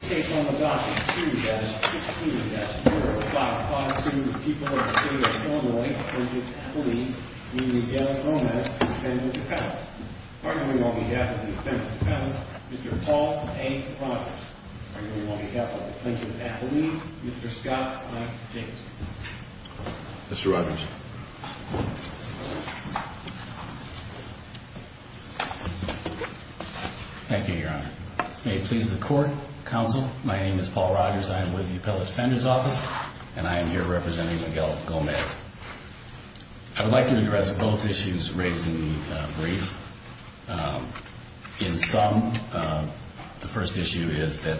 on behalf of the plaintiff's family, Mr. Paul A. Rogers. On behalf of the plaintiff's athlete, Mr. Scott I. James. Mr. Rogers. Thank you, your honor. May it please the court, counsel. My name is Paul Rogers. I am with the appellate defender's office and I am here representing Miguel Gomez. I would like to address both issues raised in the brief. In sum, the first issue is that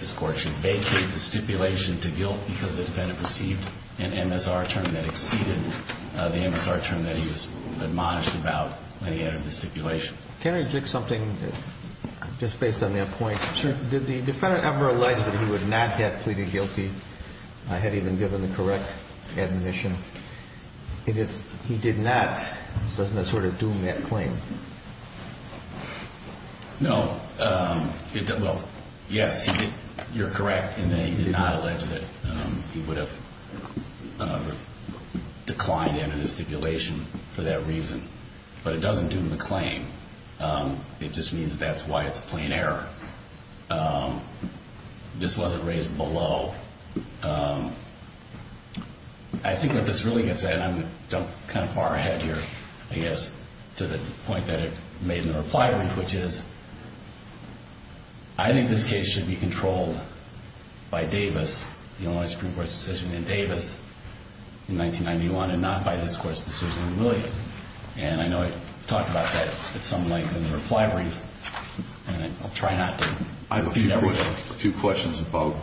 this court should vacate the stipulation to guilt because the defendant received an MSR term that exceeded the MSR term that he was admonished about when he entered the stipulation. Can I interject something just based on that point? Sure. Did the defendant ever allege that he would not have pleaded guilty had he been given the correct admission? If he did not, doesn't that sort of doom that claim? No. Well, yes, you're correct in that he did not allege that he would have declined to enter the stipulation for that reason. But it doesn't doom the claim. It just means that's why it's a plain error. This wasn't raised below. I think what this really gets at, and I'm kind of far ahead here, I guess, to the point that it made in the reply brief, which is I think this case should be controlled by Davis, the only Supreme Court decision in Davis in 1991, and not by this Court's decision in Williams. And I know I talked about that at some length in the reply brief, and I'll try not to be negative. I have a few questions about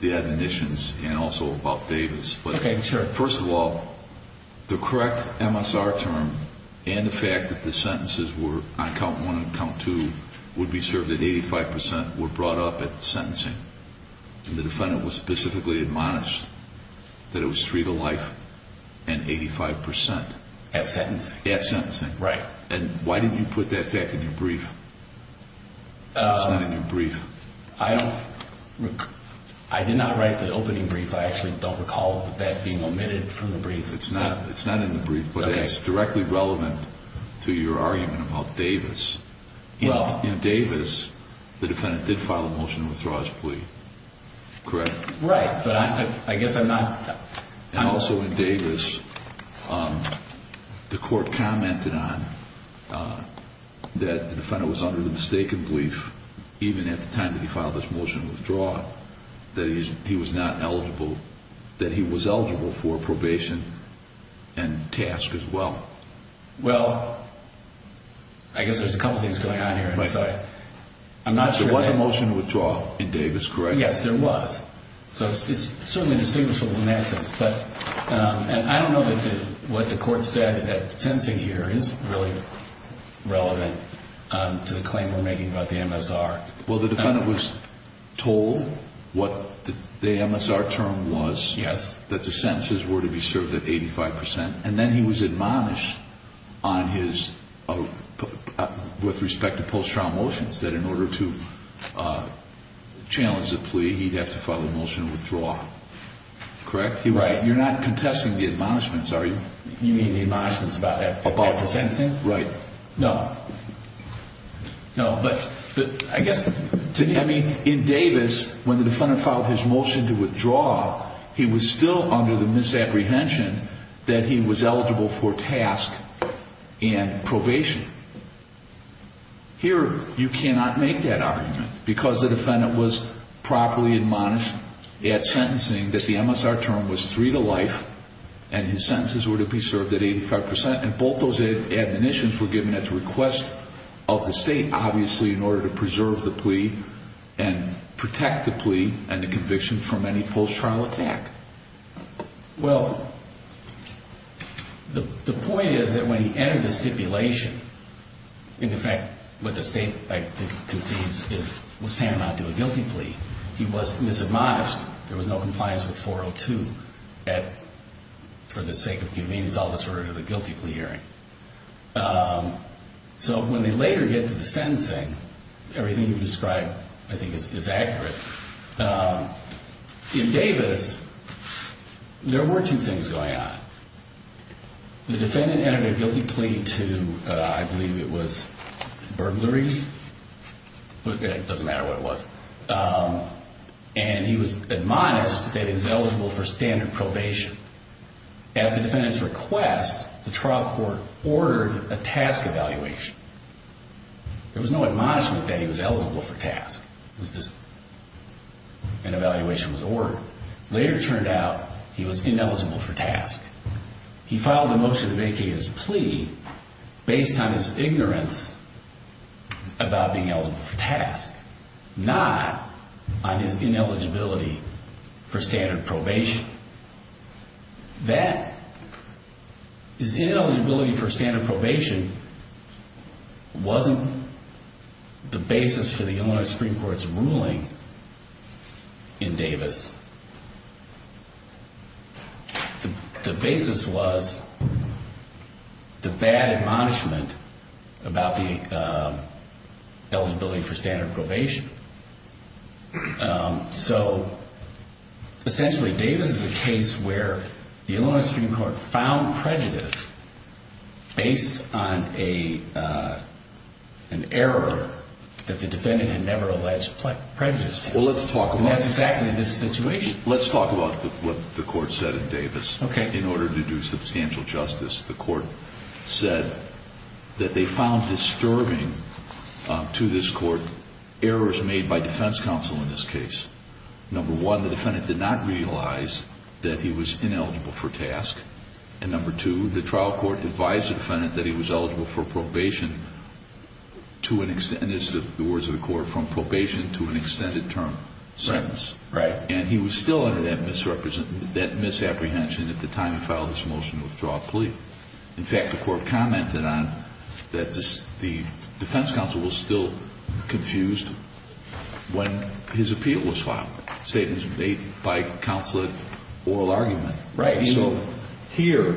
the admonitions and also about Davis. Okay, sure. But first of all, the correct MSR term and the fact that the sentences were on count one and count two would be served at 85 percent were brought up at the sentencing. And the defendant was specifically admonished that it was free to life and 85 percent. At sentencing? At sentencing. Right. And why didn't you put that fact in your brief? It's not in your brief. I did not write the opening brief. I actually don't recall that being omitted from the brief. It's not in the brief, but it's directly relevant to your argument about Davis. In Davis, the defendant did file a motion to withdraw his plea. Correct? Right. But I guess I'm not... And also in Davis, the Court commented on that the defendant was under the mistaken belief, even at the time that he filed his motion to withdraw, that he was not eligible, that he was eligible for probation and task as well. Well, I guess there's a couple things going on here, and so I'm not sure... There was a motion to withdraw in Davis, correct? Yes, there was. So it's certainly distinguishable in that sense. And I don't know that what the Court said at sentencing here is really relevant to the claim we're making about the MSR. Well, the defendant was told what the MSR term was, that the sentences were to be served at 85 percent, and then he was admonished on his... With respect to post-trial motions, that in order to challenge the plea, he'd have to file a motion to withdraw. Correct? Right. You're not contesting the admonishments, are you? You mean the admonishments about the sentencing? Right. No. No, but I guess... I mean, in Davis, when the defendant filed his motion to withdraw, he was still under the misapprehension that he was eligible for task and probation. Here, you cannot make that argument, because the defendant was properly admonished at sentencing that the MSR term was three to life, and his sentences were to be served at 85 percent, and both those admonitions were given at the request of the State, obviously, in order to preserve the plea and protect the plea and the conviction from any post-trial attack. Well, the point is that when he entered the stipulation, in effect, what the State concedes was tantamount to a guilty plea. He was misadmonished. There was no compliance with 402 for the sake of convenience. All this related to the guilty plea hearing. So when they later get to the sentencing, everything you've described, I think, is accurate. In Davis, there were two things going on. The defendant entered a guilty plea to, I believe it was burglary. It doesn't matter what it was. And he was admonished that he was eligible for standard probation. At the defendant's request, the trial court ordered a task evaluation. There was no evaluation was ordered. Later, it turned out he was ineligible for task. He filed a motion to vacate his plea based on his ignorance about being eligible for task, not on his ineligibility for standard probation. That, his ineligibility for standard probation, wasn't the basis for the Illinois Supreme Court's ruling in Davis. The basis was the bad admonishment about the eligibility for standard probation. So essentially, Davis is a case where the Illinois Supreme Court found prejudice based on an error that the defendant had never alleged prejudice to have. And that's exactly the situation. Let's talk about what the court said in Davis. In order to do substantial justice, the court said that they found disturbing to this court errors made by defense counsel in this case. Number one, the defendant did not realize that he was ineligible for task. And number two, the trial court advised the defendant that he was ineligible for probation to an extent, and this is the words of the court, from probation to an extended term sentence. Right. And he was still under that misapprehension at the time he filed this motion to withdraw a plea. In fact, the court commented on that the defense counsel was still confused when his appeal was filed, statements made by counsel at oral argument. Right. So here,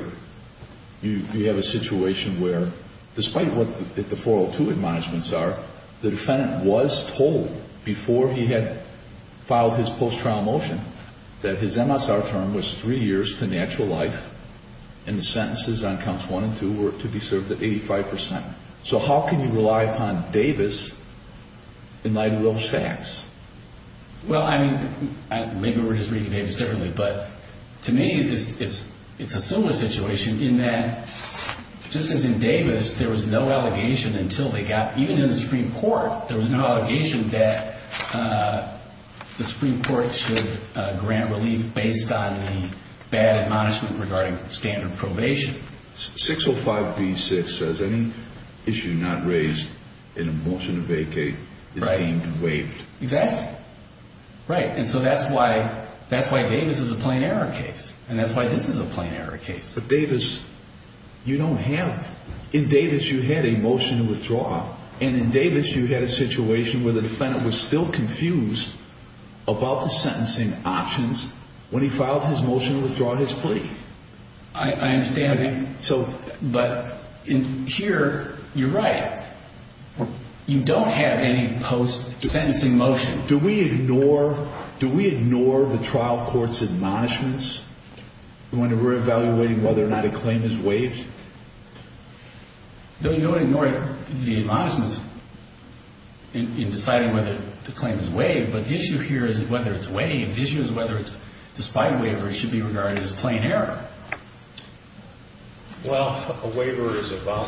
you have a situation where, despite what the 402 admonishments are, the defendant was told before he had filed his post-trial motion that his MSR term was three years to natural life and the sentences on counts one and two were to be served at 85%. So how can you rely upon Davis in light of those facts? Well, I mean, maybe we're just reading Davis differently, but to me, it's a similar situation in that, just as in Davis, there was no allegation until they got, even in the Supreme Court, there was no allegation that the Supreme Court should grant relief based on the bad admonishment regarding standard probation. 605B6 says any issue not raised in a motion to vacate is deemed waived. Right. Exactly. Right. And so that's why Davis is a plain error case, and that's why this is a plain error case. But Davis, you don't have, in Davis you had a motion to withdraw, and in Davis you had a situation where the defendant was still confused about the claim. But in here, you're right. You don't have any post-sentencing motion. Do we ignore the trial court's admonishments when we're evaluating whether or not a claim is waived? No, you don't ignore the admonishments in deciding whether the claim is waived, but the issue here is whether it's waived. The issue is whether it's, despite the fact that Davis is a plain error case, whether or not a waiver should be regarded as a plain error. Well, a waiver is about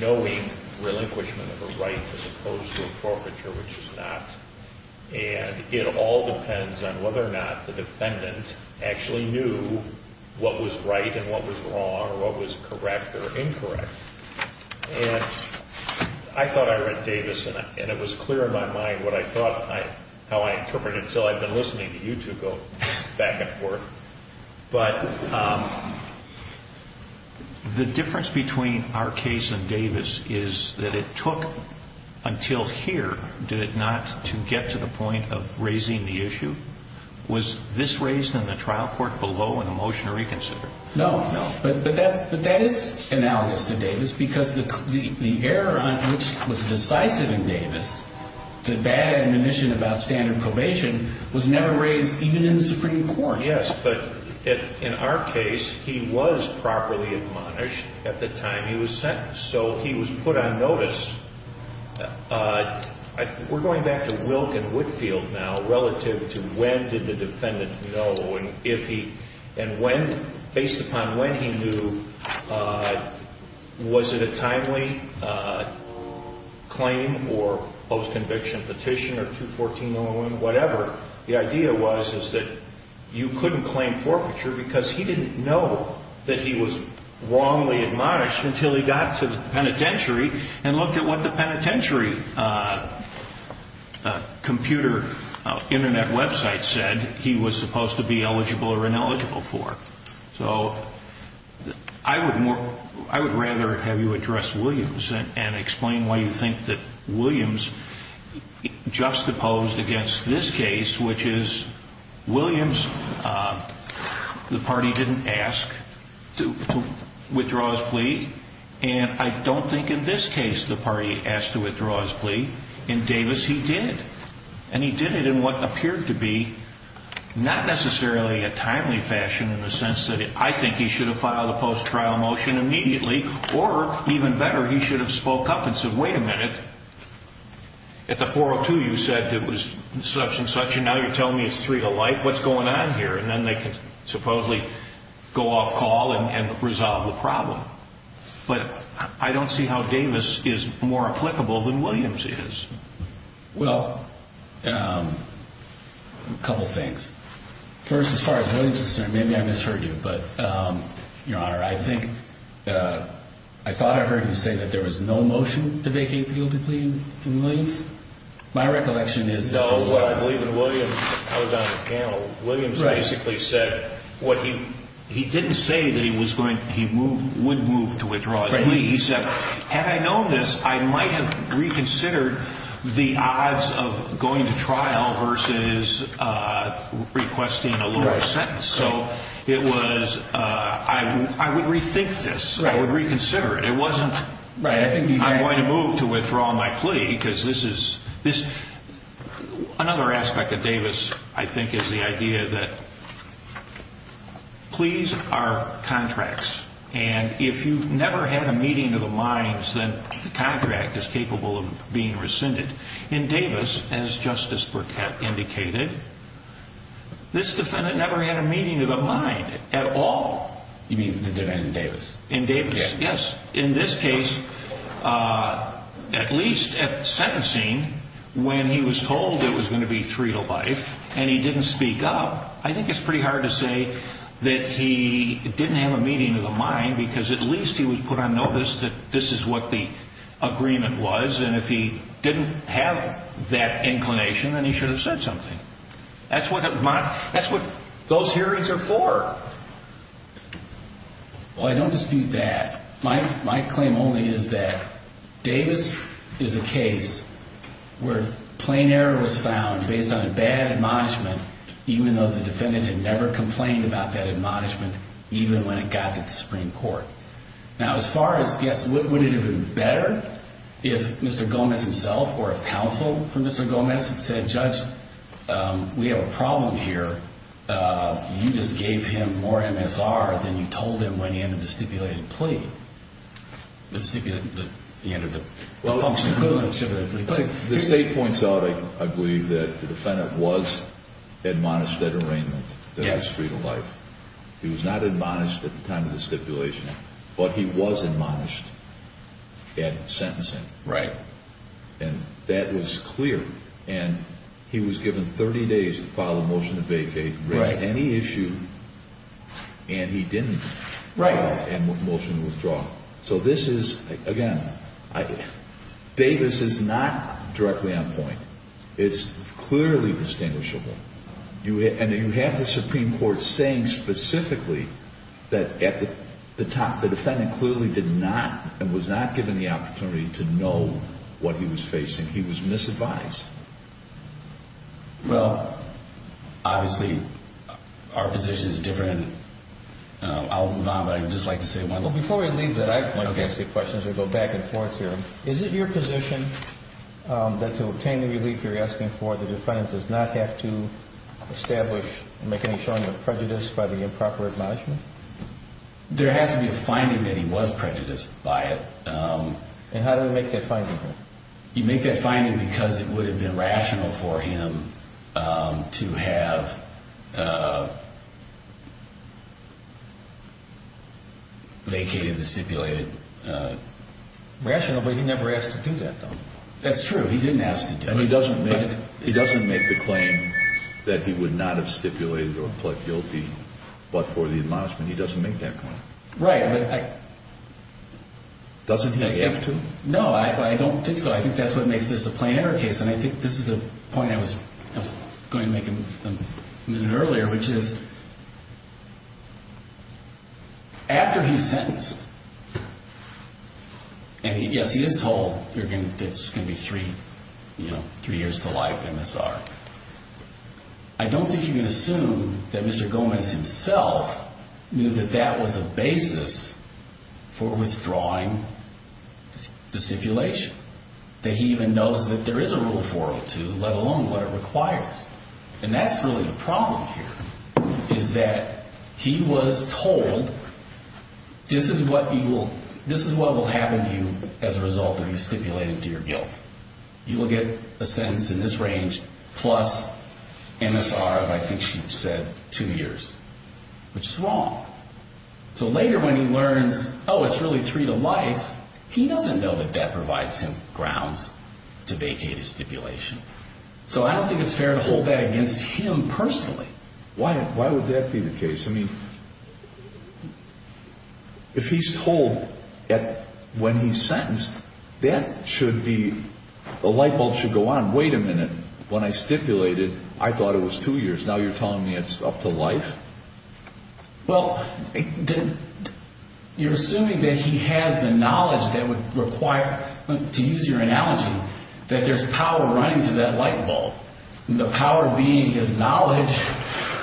knowing relinquishment of a right as opposed to a forfeiture, which is not. And it all depends on whether or not the defendant actually knew what was right and what was wrong or what was correct or incorrect. And I thought I read Davis, and it was clear in my mind what I thought, how I interpreted it until I'd been listening to you two go back and forth. But the difference between our case and Davis is that it took until here, did it not, to get to the point of raising the issue? Was this raised in the trial court below in the motion to reconsider? No, no. But that is analogous to Davis because the error on which was decisive in Davis, the bad admonition about standard probation, was never raised even in the Supreme Court. Yes, but in our case, he was properly admonished at the time he was sentenced. So he was put on notice. We're going back to Wilk and Whitfield now relative to when did the defendant know and if he, and when, based upon when he knew, was it a timely claim or post-conviction petition or 214-001, whatever, the idea was is that you couldn't claim forfeiture because he didn't know that he was wrongly admonished until he got to the penitentiary and looked at what the penitentiary computer Internet website said he was supposed to be eligible for or ineligible for. So I would rather have you address Williams and explain why you think that Williams juxtaposed against this case, which is Williams, the party didn't ask to withdraw his plea, and I don't think in this case the party asked to withdraw his plea. In Davis, he did. And he did it in what appeared to be not necessarily an timely fashion in the sense that I think he should have filed a post-trial motion immediately, or even better, he should have spoke up and said, wait a minute, at the 402 you said it was such and such, and now you're telling me it's three to life, what's going on here? And then they could supposedly go off call and resolve the problem. But I don't see how Davis is more applicable than Williams is. I'm sorry, Williams, maybe I misheard you, but, Your Honor, I think I thought I heard you say that there was no motion to vacate the guilty plea in Williams. My recollection is that... No, what I believe in Williams, I was on the panel, Williams basically said what he, he didn't say that he was going, he would move to withdraw his plea. He said, had I known this, I might have reconsidered the odds of going to trial versus requesting a parole sentence. So it was, I would rethink this, I would reconsider it. It wasn't, I'm going to move to withdraw my plea, because this is, another aspect of Davis, I think, is the idea that pleas are contracts, and if you've never had a meeting of the minds, then the contract is capable of being rescinded. In Davis, as Justice Burkett indicated, this defendant may have never had a meeting of the mind at all. You mean the defendant in Davis? In Davis, yes. In this case, at least at sentencing, when he was told it was going to be three to life, and he didn't speak up, I think it's pretty hard to say that he didn't have a meeting of the mind, because at least he was put on notice that this is what the agreement was, and if he didn't have that inclination, then he should have said something. That's what those hearings are for. Well, I don't dispute that. My claim only is that Davis is a case where plain error was found based on a bad admonishment, even though the defendant had never complained about that admonishment, even when it got to the Supreme Court. Now, as far as, yes, would it have been better if Mr. Gomez himself, or if Mr. Gomez himself, had been put on notice, we have a problem here. You just gave him more MSR than you told him when he entered the stipulated plea. The stipulated, the end of the function. The state points out, I believe, that the defendant was admonished at arraignment that it was three to life. He was not admonished at the time of the stipulation, but he was admonished at sentencing. Right. And that was clear, and he was given 30 days to file a motion to vacate, raise any issue, and he didn't file a motion to withdraw. So this is, again, Davis is not directly on point. It's clearly distinguishable, and you have the Supreme Court saying specifically that at the time, the defendant clearly did not, and was not given the opportunity to know what he was facing. He was misadvised. Well, obviously, our position is different. I'll move on, but I'd just like to say one more thing. Before we leave that, I'd like to ask you a question as we go back and forth here. Is it your position that to obtain the relief you're asking for, the defendant does not have to establish and make any showing of prejudice by the improper admonishment? There has to be a finding that he was prejudiced by it. And how do we make that finding? You make that finding because it would have been rational for him to have vacated the stipulated. Rational, but he never asked to do that, though. That's true. He didn't ask to do it. He doesn't make the claim that he would not have stipulated or pled guilty, but for the admonishment, he doesn't make that claim. Right. Doesn't he have to? No, I don't think so. I think that's what makes this a plain error case, and I think this is the point I was going to make a minute earlier, which is, after he's sentenced, and yes, he is told that it's going to be three years to life, MSR. I don't think you can assume that Mr. Gomez himself knew that that was a basis for withdrawing the stipulated. That he even knows that there is a Rule 402, let alone what it requires. And that's really the problem here, is that he was told, this is what will happen to you as a result of you stipulating to your guilt. You will get a sentence in this range plus MSR of, I think she said, two years, which is wrong. So later when he learns, oh, it's really three to life, he doesn't know that that provides him grounds to vacate his stipulation. So I don't think it's fair to hold that against him personally. Why would that be the case? I mean, if he's told that when he's sentenced, that should be, the light bulb should go on. Wait a minute. When I stipulated, I thought it was two years. Now you're telling me it's up to life? You're assuming that he has the knowledge that would require, to use your analogy, that there's power running to that light bulb. And the power being his knowledge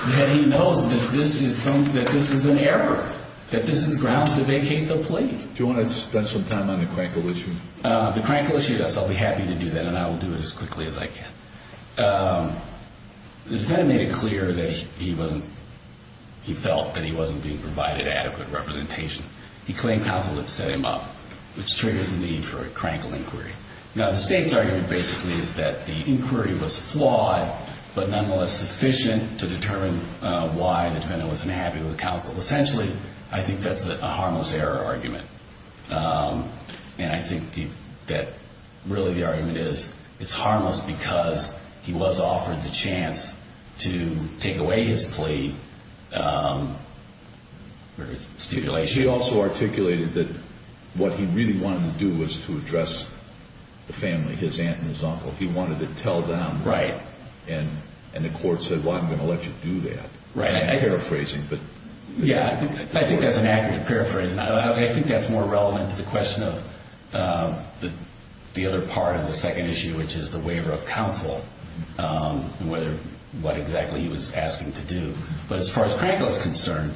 that he knows that this is an error, that this is grounds to vacate the plea. Do you want to spend some time on the Crankle issue? The Crankle issue, yes, I'll be happy to do that, and I will do it as quickly as I can. The defendant made it clear that he wasn't, he felt that he wasn't being provided adequate representation. He claimed counsel had set him up, which triggers the need for a Crankle inquiry. Now the state's argument basically is that the inquiry was flawed, but nonetheless sufficient to determine why the defendant was unhappy with counsel. Essentially, I think that's a harmless error argument. And I think that really the argument is, it's harmless because he was offered the chance to take away his plea, or his stipulation. He also articulated that what he really wanted to do was to address the family, his aunt and his uncle. He wanted to tell them, and the court said, well, I'm going to let you do that. I think that's an accurate paraphrase, and I think that's more relevant to the question of the other part of the second issue, which is the waiver of counsel, and what exactly he was asking to do. But as far as Crankle is concerned,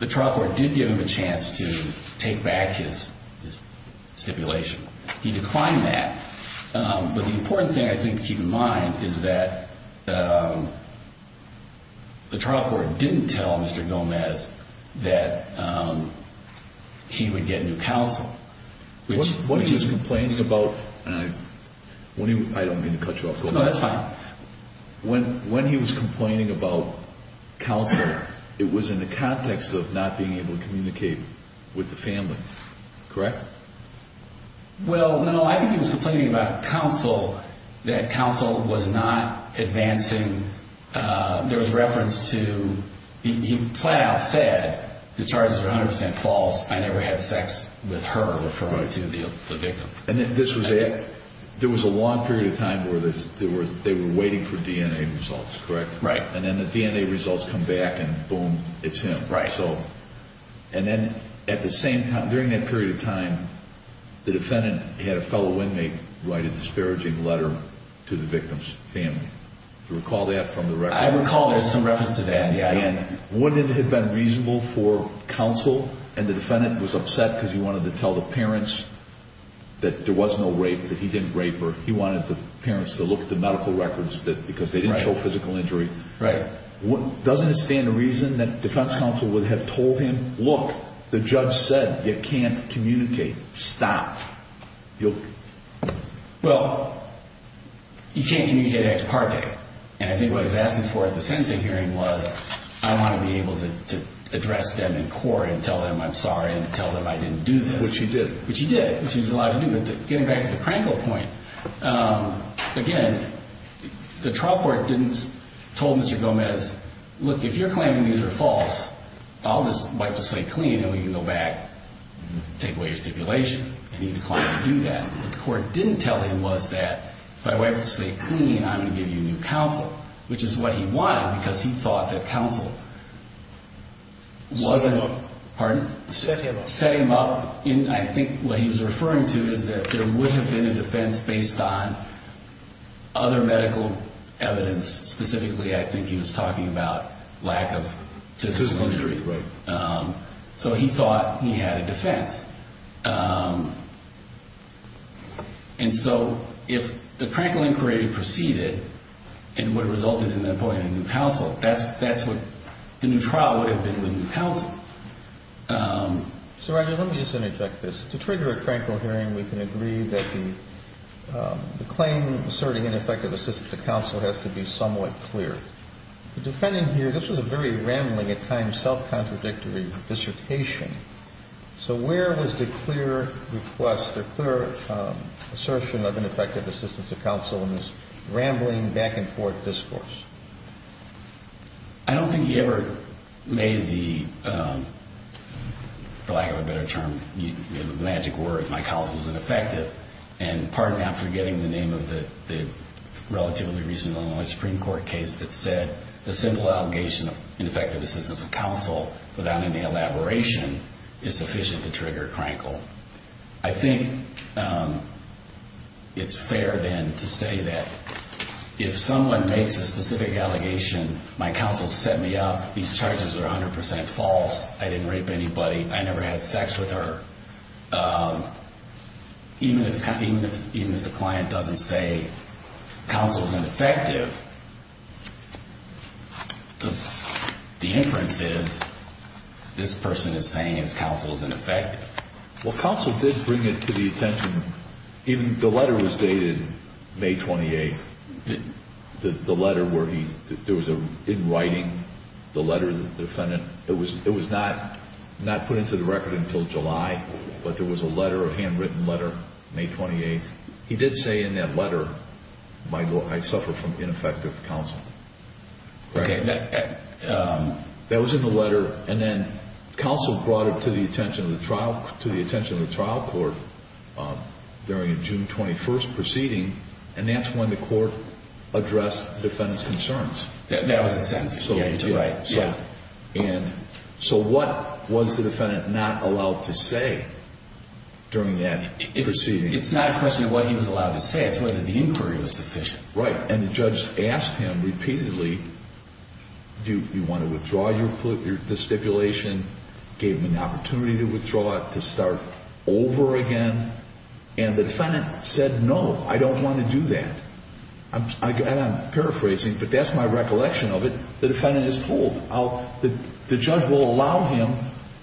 the trial court did give him a chance to take back his stipulation. He declined that, but the important thing I think to keep in mind is that the trial court didn't tell Mr. Gomez that he would get new counsel. When he was complaining about counsel, it was in the context of not being able to communicate with the family, correct? Well, no, I think he was complaining about counsel, that counsel was not advancing. There was reference to, he flat out said, the charges are 100% false, I never had sex with her, referring to the victim. And this was, there was a long period of time where they were waiting for DNA results, correct? Right. And then the DNA results come back, and boom, it's him. Right. And then at the same time, during that period of time, the defendant had a fellow inmate write a disparaging letter to the victim's family. Do you recall that from the record? I recall there's some reference to that, yeah. And wouldn't it have been reasonable for counsel, and the defendant was upset because he wanted to tell the parents that there was no rape, that he didn't rape her. He wanted the parents to look at the medical records because they didn't show physical injury. Right. Doesn't it stand to reason that defense counsel would have told him, look, the judge said, you can't communicate, stop. Well, he can't communicate ex parte. And I think what he was asking for at the sentencing hearing was, I want to be able to address them in court and tell them I'm sorry and tell them I didn't do this. Which he did. Which he did, which he was allowed to do. Getting back to the Krankel point, again, the trial court didn't tell Mr. Gomez, look, if you're claiming these are false, I'll just wipe the slate clean and we can go back and take away your stipulation. And he declined to do that. What the court didn't tell him was that, if I wipe the slate clean, I'm going to give you new counsel. Which is what he wanted because he thought that counsel wasn't, pardon? Set him up. I think what he was referring to is that there would have been a defense based on other medical evidence. Specifically, I think he was talking about lack of physical injury. Right. So he thought he had a defense. And so if the Krankel inquiry proceeded, it would have resulted in the appointment of new counsel. That's what the new trial would have been with new counsel. So, Roger, let me just interject this. To trigger a Krankel hearing, we can agree that the claim asserting ineffective assistance to counsel has to be somewhat clear. The defending here, this was a very rambling, at times self-contradictory dissertation. So where was the clear request or clear assertion of ineffective assistance to counsel in this rambling back and forth discourse? I don't think he ever made the, for lack of a better term, magic words, my counsel is ineffective. And pardon me, I'm forgetting the name of the relatively recent Illinois Supreme Court case that said, a simple allegation of ineffective assistance of counsel without any elaboration is sufficient to trigger Krankel. I think it's fair, then, to say that if someone makes a specific allegation, my counsel set me up, these charges are 100% false, I didn't rape anybody, I never had sex with her, even if the client doesn't say counsel is ineffective, the inference is, this person is saying his counsel is ineffective. Well, counsel did bring it to the attention, even the letter was dated May 28th. The letter where he, there was a, in writing, the letter, the defendant, it was not put into the record until July, but there was a letter, a handwritten letter, May 28th. He did say in that letter, I suffer from ineffective counsel. Okay. That was in the letter, and then counsel brought it to the attention of the trial court during a June 21st proceeding, and that's when the court addressed the defendant's concerns. That was the sentence, yeah, you're right, yeah. And so what was the defendant not allowed to say during that proceeding? It's not a question of what he was allowed to say, it's whether the inquiry was sufficient. Right, and the judge asked him repeatedly, do you want to withdraw the stipulation, gave him an opportunity to withdraw it, to start over again, and the defendant said, no, I don't want to do that. And I'm paraphrasing, but that's my recollection of it. The defendant is told how the judge will allow him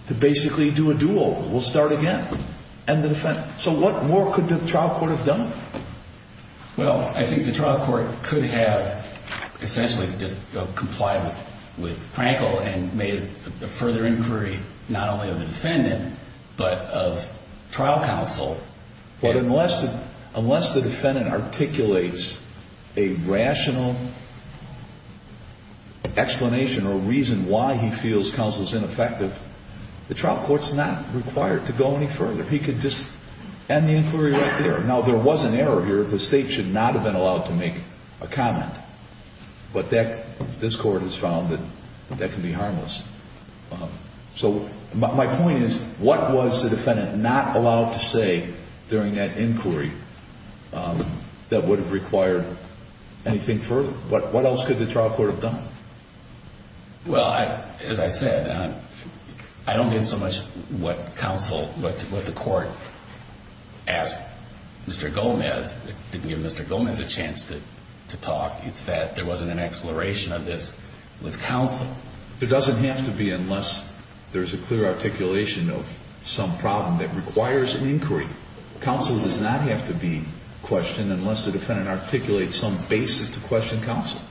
to basically do a do-over, we'll start again. So what more could the trial court have done? Well, I think the trial court could have essentially just complied with Frankel and made a further inquiry not only of the defendant but of trial counsel. But unless the defendant articulates a rational explanation or reason why he feels counsel is ineffective, the trial court's not required to go any further. He could just end the inquiry right there. Now, there was an error here, the state should not have been allowed to make a comment, but this court has found that that can be harmless. So my point is, what was the defendant not allowed to say during that inquiry that would have required anything further? But what else could the trial court have done? Well, as I said, I don't get so much what counsel, what the court asked Mr. Gomez. It didn't give Mr. Gomez a chance to talk. It's that there wasn't an exploration of this with counsel. It doesn't have to be unless there's a clear articulation of some problem that requires an inquiry. Counsel does not have to be questioned unless the defendant articulates some basis to question counsel.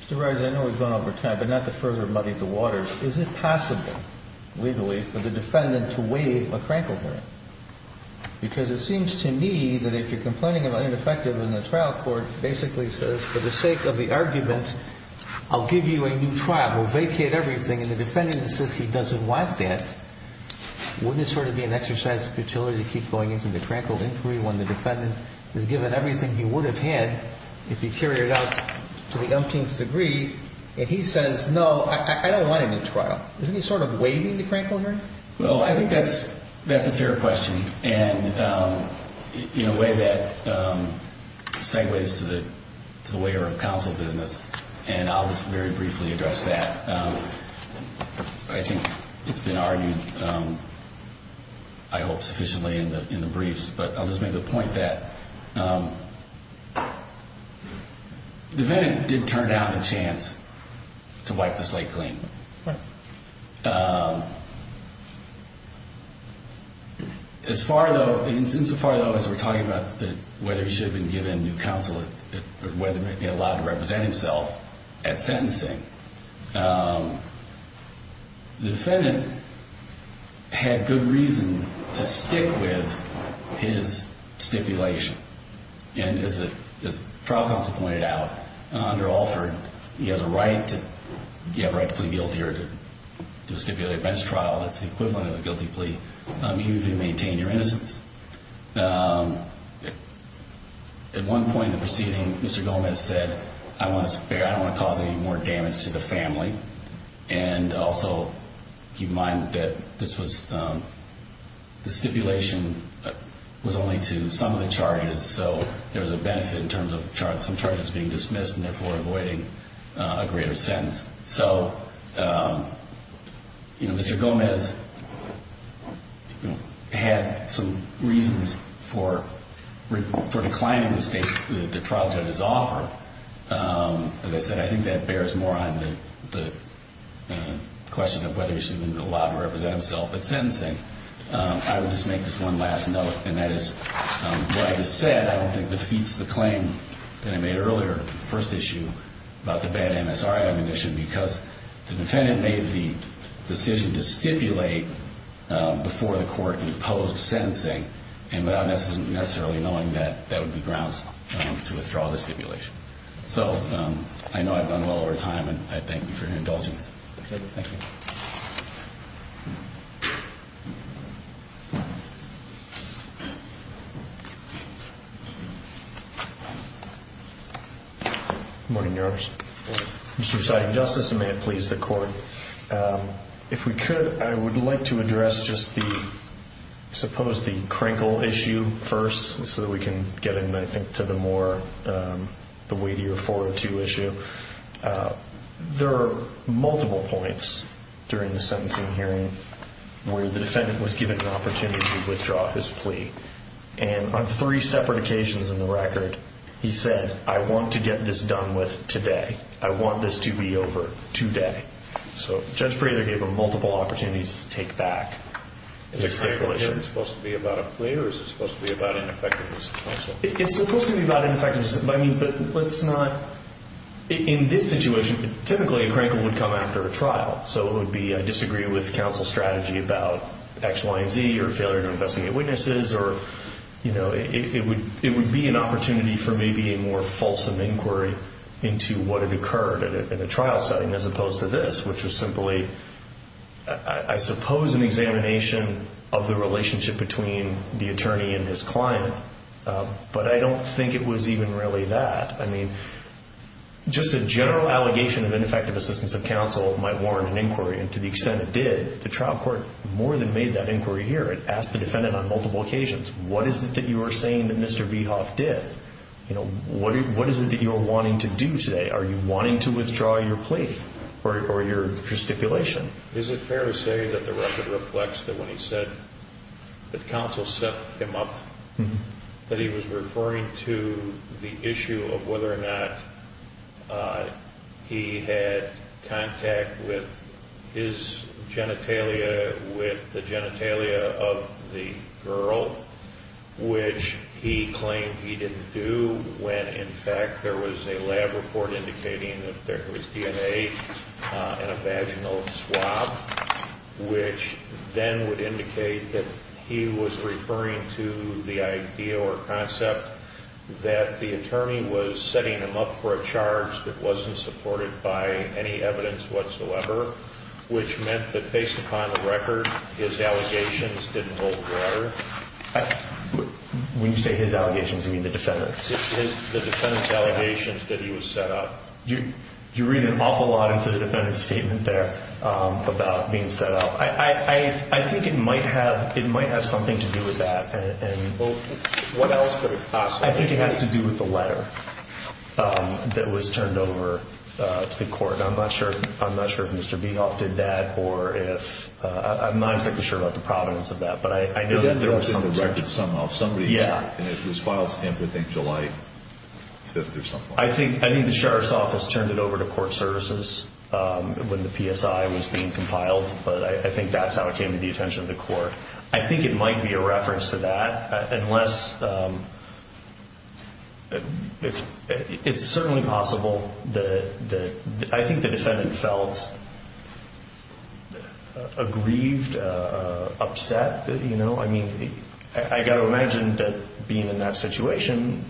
Mr. Rogers, I know we've gone over time, but not to further muddy the waters. Is it possible, legally, for the defendant to waive a Frankel hearing? Because it seems to me that if you're complaining about ineffective, then the trial court basically says, for the sake of the argument, I'll give you a new trial. We'll vacate everything. And the defendant insists he doesn't want that. Wouldn't it sort of be an exercise of futility to keep going into the Frankel inquiry when the defendant is given everything he would have had if he carried it out to the umpteenth degree? And he says, no, I don't want a new trial. Isn't he sort of waiving the Frankel hearing? Well, I think that's a fair question in a way that segues to the way of counsel business. And I'll just very briefly address that. I think it's been argued, I hope, sufficiently in the briefs. But I'll just make the point that the defendant did turn down the chance to wipe the slate clean. Insofar, though, as we're talking about whether he should have been given new counsel or whether he might be allowed to represent himself at sentencing, the defendant had good reason to stick with his stipulation. And as the trial counsel pointed out, under Alford, he has a right to plead guilty or to stipulate a bench trial. That's the equivalent of a guilty plea, even if you maintain your innocence. At one point in the proceeding, Mr. Gomez said, I don't want to cause any more damage to the family. And also keep in mind that the stipulation was only to some of the charges. So there was a benefit in terms of some charges being dismissed and therefore avoiding a greater sentence. So, you know, Mr. Gomez had some reasons for declining the trial judge's offer. As I said, I think that bears more on the question of whether he should have been allowed to represent himself at sentencing. I would just make this one last note, and that is, what I just said I don't think defeats the claim that I made earlier, the first issue about the bad MSR ammunition, because the defendant made the decision to stipulate before the court in post-sentencing and without necessarily knowing that that would be grounds to withdraw the stipulation. So I know I've done well over time, and I thank you for your indulgence. Thank you. Good morning, Your Honor. Good morning. Mr. Presiding Justice, and may it please the Court, if we could, I would like to address just the, I suppose the Krinkle issue first so that we can get into the more weightier 402 issue. There are multiple points during the sentencing hearing where the defendant was given an opportunity to withdraw his plea. And on three separate occasions in the record, he said, I want to get this done with today. I want this to be over today. So Judge Prado gave him multiple opportunities to take back his stipulation. Is the Krinkle issue supposed to be about a plea, or is it supposed to be about ineffectiveness also? It's supposed to be about ineffectiveness, but let's not, in this situation, typically a Krinkle would come after a trial. So it would be I disagree with counsel's strategy about X, Y, and Z, or failure to investigate witnesses, or it would be an opportunity for maybe a more fulsome inquiry into what had occurred in a trial setting as opposed to this, which was simply, I suppose, an examination of the relationship between the attorney and his client. But I don't think it was even really that. I mean, just a general allegation of ineffective assistance of counsel might warrant an inquiry, and to the extent it did, the trial court more than made that inquiry here. It asked the defendant on multiple occasions, what is it that you are saying that Mr. Veehoff did? What is it that you are wanting to do today? Are you wanting to withdraw your plea or your stipulation? Is it fair to say that the record reflects that when he said that counsel set him up, that he was referring to the issue of whether or not he had contact with his genitalia, with the genitalia of the girl, which he claimed he didn't do, when in fact there was a lab report indicating that there was DNA in a vaginal swab, which then would indicate that he was referring to the idea or concept that the attorney was setting him up for a charge that wasn't supported by any evidence whatsoever, which meant that based upon the record, his allegations didn't hold water. When you say his allegations, you mean the defendant's? The defendant's allegations that he was set up. You read an awful lot into the defendant's statement there about being set up. I think it might have something to do with that. What else could it possibly be? I think it has to do with the letter that was turned over to the court. I'm not sure if Mr. Veehoff did that or if – I'm not exactly sure about the provenance of that, but I know that there was some – He did have to have a record somehow. Somebody – Yeah. And it was filed, I think, July 5th or something like that. I think the sheriff's office turned it over to court services when the PSI was being compiled, but I think that's how it came to the attention of the court. I think it might be a reference to that, unless – it's certainly possible that – I think the defendant felt aggrieved, upset. I mean, I've got to imagine that being in that situation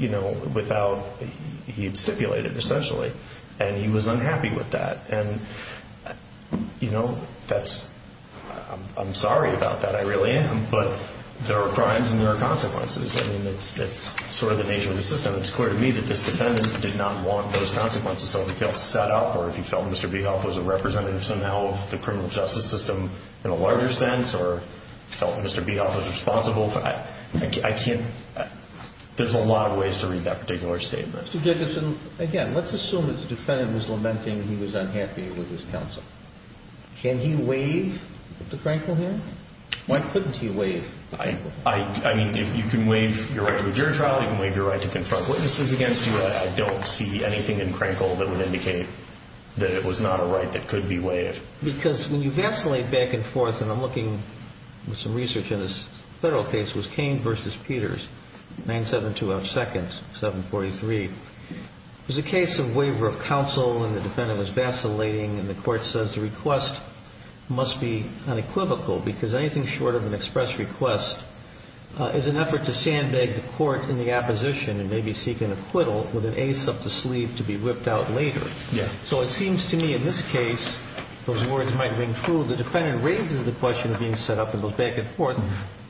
without – he had stipulated essentially, and he was unhappy with that. And, you know, that's – I'm sorry about that. I really am. But there are crimes and there are consequences. I mean, it's sort of the nature of the system. And it's clear to me that this defendant did not want those consequences. So if he felt set up or if he felt Mr. Veehoff was a representative somehow of the criminal justice system in a larger sense or felt Mr. Veehoff was responsible, I can't – there's a lot of ways to read that particular statement. Mr. Jacobson, again, let's assume that the defendant was lamenting he was unhappy with his counsel. Can he waive the Frankel here? Why couldn't he waive the Frankel? I mean, you can waive your right to a jury trial. You can waive your right to confront witnesses against you. I don't see anything in Frankel that would indicate that it was not a right that could be waived. Because when you vacillate back and forth – and I'm looking at some research in this federal case, it was Cain v. Peters, 972 F. 2nd, 743. It was a case of waiver of counsel, and the defendant was vacillating, and the court says the request must be unequivocal because anything short of an express request is an effort to sandbag the court in the opposition and maybe seek an acquittal with an ace up the sleeve to be whipped out later. So it seems to me in this case those words might ring true. The defendant raises the question of being set up and goes back and forth.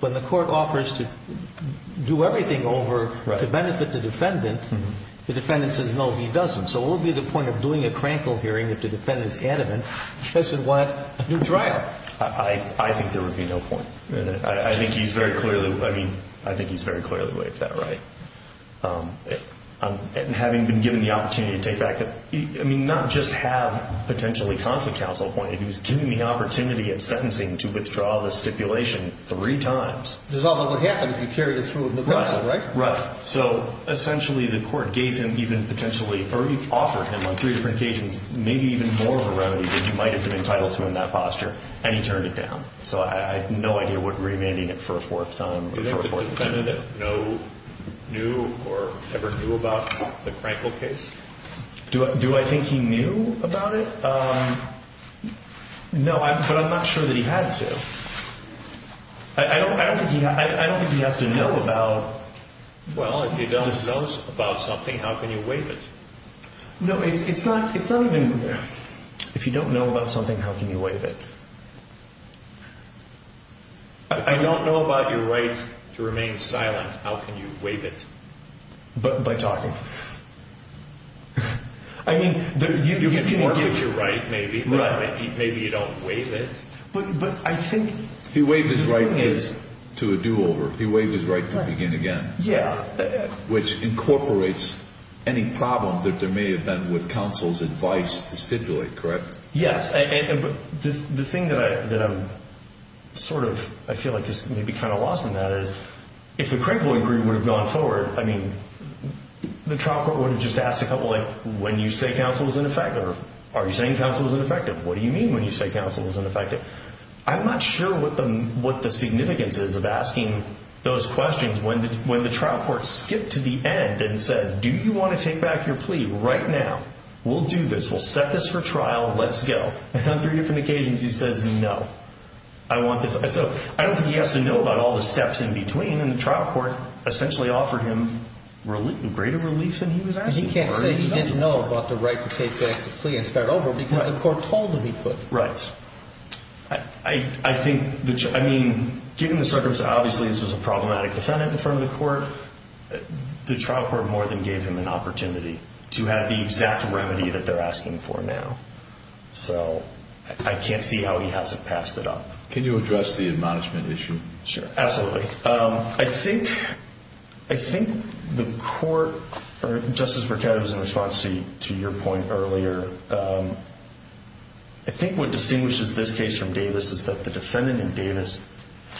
When the court offers to do everything over to benefit the defendant, the defendant says no, he doesn't. So what would be the point of doing a Frankel hearing if the defendant is adamant he doesn't want a new trial? I think there would be no point. I think he's very clearly – I mean, I think he's very clearly waived that right. And having been given the opportunity to take back the – I mean, not just have potentially conflict counsel appointed, he was given the opportunity at sentencing to withdraw the stipulation three times. It doesn't matter what happens if you carry it through with no counsel, right? Right. So essentially the court gave him even potentially – or offered him on three different occasions maybe even more of a remedy that he might have been entitled to in that posture, and he turned it down. So I have no idea what remanding it for a fourth time – Do you think the defendant knew or ever knew about the Frankel case? Do I think he knew about it? No, but I'm not sure that he had to. I don't think he has to know about this. Well, if you don't know about something, how can you waive it? No, it's not even – If you don't know about something, how can you waive it? If you don't know about your right to remain silent, how can you waive it? By talking. I mean, you can give your right maybe, but maybe you don't waive it. But I think – He waived his right to a do-over. He waived his right to begin again. Yeah. Which incorporates any problem that there may have been with counsel's advice to stipulate, correct? Yes, and the thing that I'm sort of – I feel like is maybe kind of lost in that is, if the Crankville Agreement would have gone forward, I mean, the trial court would have just asked a couple, like, when you say counsel is ineffective, are you saying counsel is ineffective? What do you mean when you say counsel is ineffective? I'm not sure what the significance is of asking those questions when the trial court skipped to the end and said, do you want to take back your plea right now? We'll do this. We'll set this for trial. Let's go. And on three different occasions he says no. I don't think he has to know about all the steps in between, and the trial court essentially offered him greater relief than he was asking for. He can't say he didn't know about the right to take back the plea and start over because the court told him he could. Right. I think – I mean, given the circumstances, obviously this was a problematic defendant in front of the court. The trial court more than gave him an opportunity to have the exact remedy that they're asking for now. So I can't see how he hasn't passed it up. Can you address the admonishment issue? Sure, absolutely. I think the court – Justice Burkett was in response to your point earlier. I think what distinguishes this case from Davis is that the defendant in Davis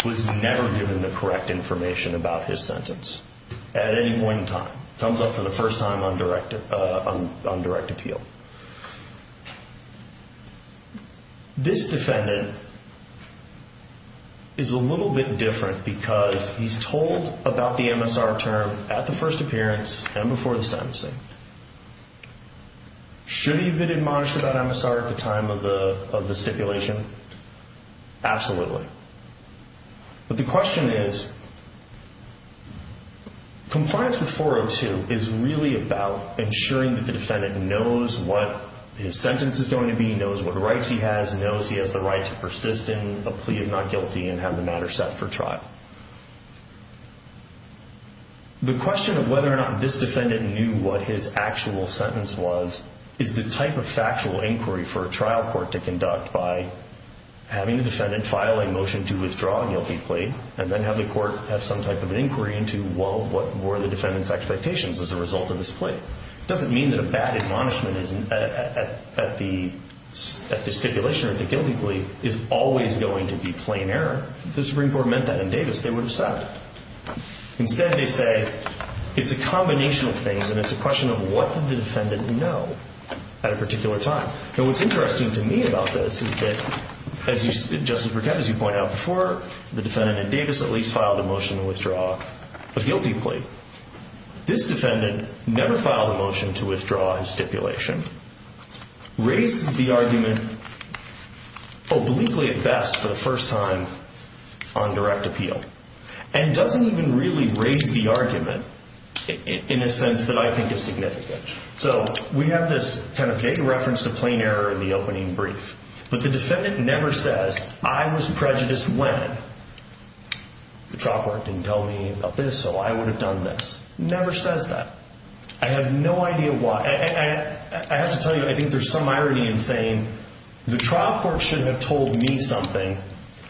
was never given the correct information about his sentence at any point in time. Comes up for the first time on direct appeal. This defendant is a little bit different because he's told about the MSR term at the first appearance and before the sentencing. Should he have been admonished about MSR at the time of the stipulation? Absolutely. But the question is, compliance with 402 is really about ensuring that the defendant knows what his sentence is going to be, knows what rights he has, knows he has the right to persist in a plea of not guilty and have the matter set for trial. The question of whether or not this defendant knew what his actual sentence was is the type of factual inquiry for a trial court to conduct by having the defendant file a motion to withdraw a guilty plea and then have the court have some type of an inquiry into, well, what were the defendant's expectations as a result of this plea? It doesn't mean that a bad admonishment at the stipulation, at the guilty plea, is always going to be plain error. If the Supreme Court meant that in Davis, they would have said it. Instead, they say it's a combination of things and it's a question of what did the defendant know at a particular time. Now, what's interesting to me about this is that, Justice Burkett, as you point out before, the defendant in Davis at least filed a motion to withdraw a guilty plea. This defendant never filed a motion to withdraw his stipulation, raises the argument obliquely at best for the first time on direct appeal, and doesn't even really raise the argument in a sense that I think is significant. So we have this kind of vague reference to plain error in the opening brief, but the defendant never says, I was prejudiced when the trial court didn't tell me about this, so I would have done this. Never says that. I have no idea why. I have to tell you, I think there's some irony in saying, the trial court should have told me something,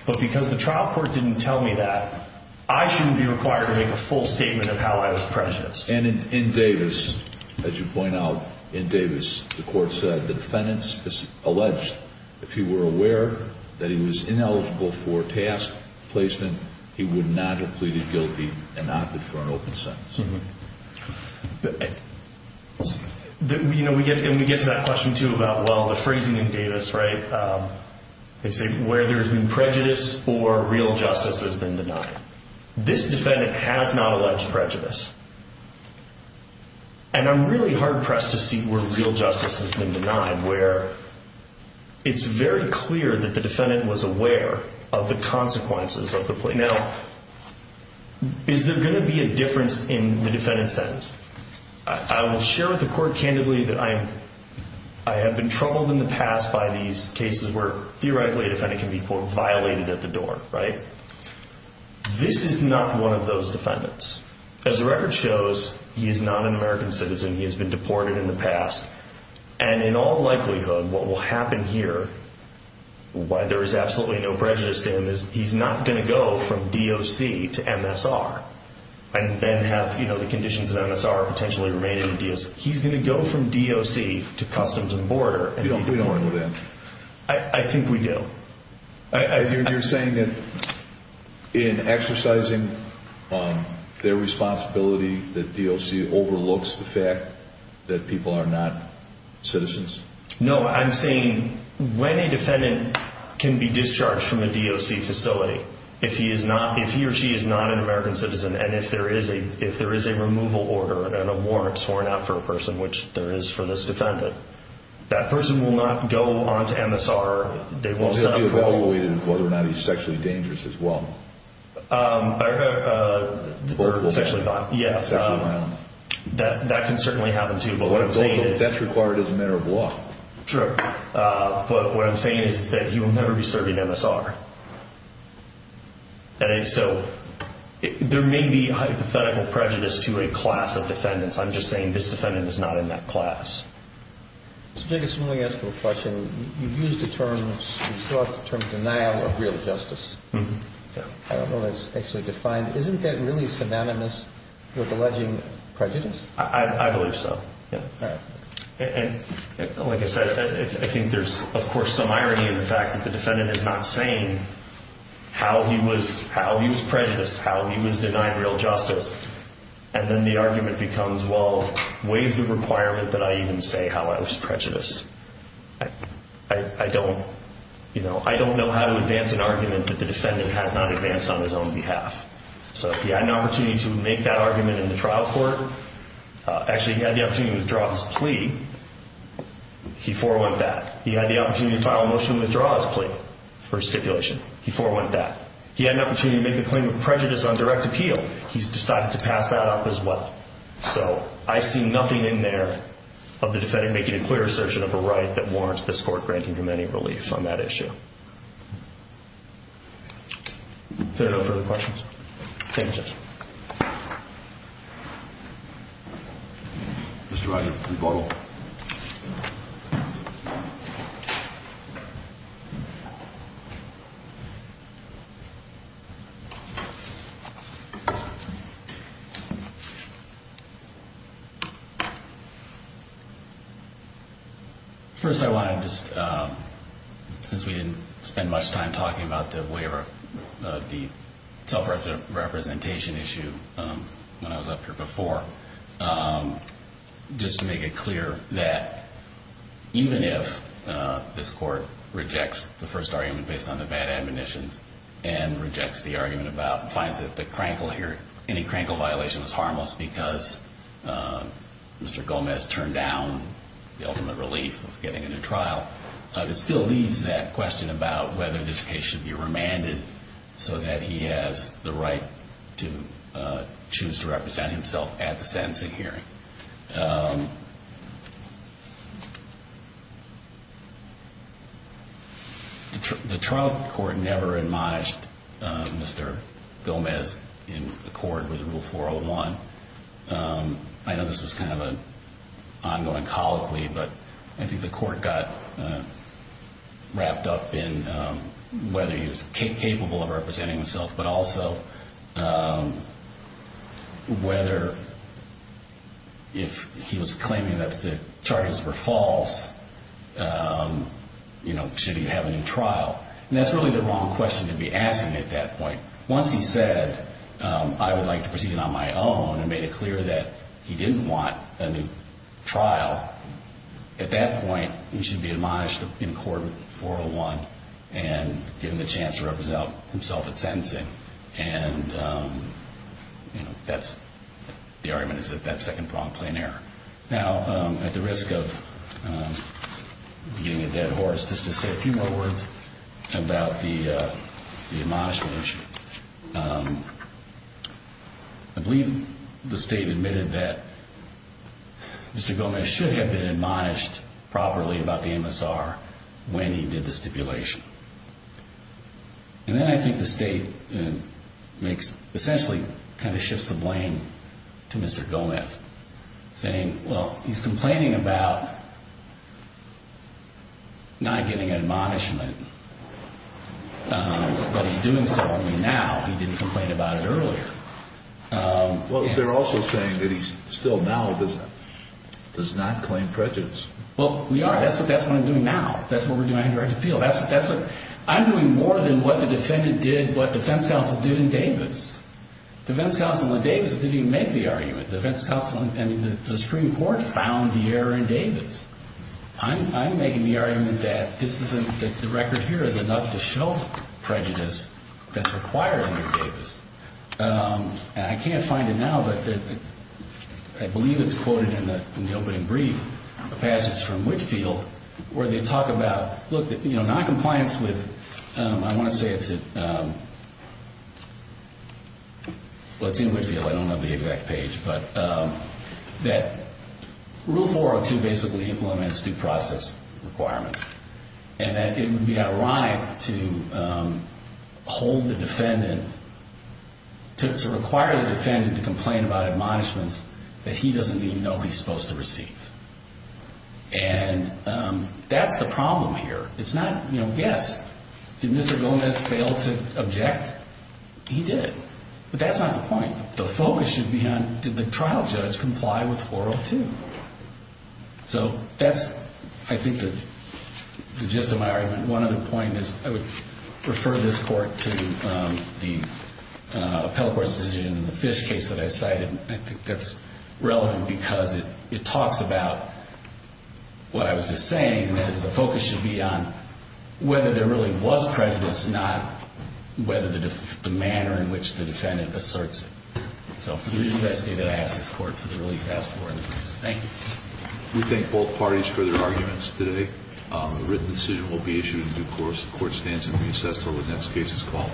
but because the trial court didn't tell me that, I shouldn't be required to make a full statement of how I was prejudiced. And in Davis, as you point out, in Davis, the court said, the defendant alleged if he were aware that he was ineligible for task placement, he would not have pleaded guilty and opted for an open sentence. And we get to that question, too, about, well, the phrasing in Davis, right? They say where there's been prejudice or real justice has been denied. This defendant has not alleged prejudice. And I'm really hard-pressed to see where real justice has been denied, where it's very clear that the defendant was aware of the consequences of the plea. Now, is there going to be a difference in the defendant's sentence? I will share with the court, candidly, that I have been troubled in the past by these cases where, theoretically, a defendant can be, quote, violated at the door, right? This is not one of those defendants. As the record shows, he is not an American citizen. He has been deported in the past. And in all likelihood, what will happen here, why there is absolutely no prejudice in this, he's not going to go from DOC to MSR and then have the conditions of MSR potentially remain in the DOC. He's going to go from DOC to Customs and Border. You don't agree with that? I think we do. You're saying that in exercising their responsibility, that DOC overlooks the fact that people are not citizens? No. I'm saying when a defendant can be discharged from a DOC facility, if he or she is not an American citizen and if there is a removal order and a warrant sworn out for a person, which there is for this defendant, that person will not go on to MSR. They won't set up court. He'll be evaluated as whether or not he's sexually dangerous as well. Or sexually violent. Yeah. Sexually violent. That can certainly happen too. That's required as a matter of law. True. But what I'm saying is that he will never be serving MSR. So there may be hypothetical prejudice to a class of defendants. I'm just saying this defendant is not in that class. Mr. Jacobson, let me ask you a question. You've used the term denial of real justice. I don't know if that's actually defined. Isn't that really synonymous with alleging prejudice? I believe so. All right. Like I said, I think there's, of course, some irony in the fact that the defendant is not saying how he was prejudiced, how he was denied real justice, and then the argument becomes, well, waive the requirement that I even say how I was prejudiced. I don't know how to advance an argument that the defendant has not advanced on his own behalf. So he had an opportunity to make that argument in the trial court. Actually, he had the opportunity to withdraw his plea. He forewent that. He had the opportunity to file a motion to withdraw his plea for stipulation. He forewent that. He had an opportunity to make a claim of prejudice on direct appeal. He's decided to pass that up as well. So I see nothing in there of the defendant making a clear assertion of a right that warrants this court granting him any relief on that issue. Thank you. If there are no further questions. Thank you, Judge. Mr. Rogers, please go ahead. Thank you. First I want to just, since we didn't spend much time talking about the waiver, the self-representation issue when I was up here before, just to make it clear that even if this court rejects the first argument based on the bad admonitions and rejects the argument about fines that the crankle here, any crankle violation was harmless because Mr. Gomez turned down the ultimate relief of getting into trial, it still leaves that question about whether this case should be remanded so that he has the right to choose to represent himself at the sentencing hearing. The trial court never admonished Mr. Gomez in accord with Rule 401. I know this was kind of an ongoing colloquy, but I think the court got wrapped up in whether he was capable of representing himself, but also whether if he was claiming that the charges were false, should he have a new trial. And that's really the wrong question to be asking at that point. Once he said, I would like to proceed on my own, and made it clear that he didn't want a new trial, at that point he should be admonished in accord with 401 and given the chance to represent himself at sentencing. And that's, the argument is that that's second prompt plain error. Now, at the risk of getting a dead horse, just to say a few more words about the admonishment issue. I believe the state admitted that Mr. Gomez should have been admonished properly about the MSR when he did the stipulation. And then I think the state essentially kind of shifts the blame to Mr. Gomez, saying, well, he's complaining about not getting admonishment, but he's doing so now. He didn't complain about it earlier. Well, they're also saying that he's still now does not claim prejudice. Well, we are. That's what I'm doing now. That's what we're doing on a direct appeal. That's what I'm doing more than what the defendant did, what defense counsel did in Davis. Defense counsel in Davis didn't even make the argument. Defense counsel in the Supreme Court found the error in Davis. I'm making the argument that this isn't, that the record here is enough to show prejudice that's required under Davis. And I can't find it now, but I believe it's quoted in the opening brief, a passage from Whitfield, where they talk about, look, noncompliance with, I want to say it's in, well, it's in Whitfield. I don't know the exact page, but that Rule 402 basically implements due process requirements, and that it would be ironic to hold the defendant, to require the defendant to complain about admonishments that he doesn't even know he's supposed to receive. And that's the problem here. It's not, you know, yes, did Mr. Gomez fail to object? He did. But that's not the point. The focus should be on did the trial judge comply with 402? So that's, I think, the gist of my argument. One other point is I would refer this court to the appellate court's decision in the Fish case that I cited. I think that's relevant because it talks about what I was just saying, and that is the focus should be on whether there really was prejudice, not whether the manner in which the defendant asserts it. So for the reason that I stated, I ask this court for the relief asked for in the case. Thank you. We thank both parties for their arguments today. The written decision will be issued in due course. The court stands in recess until the next case is called.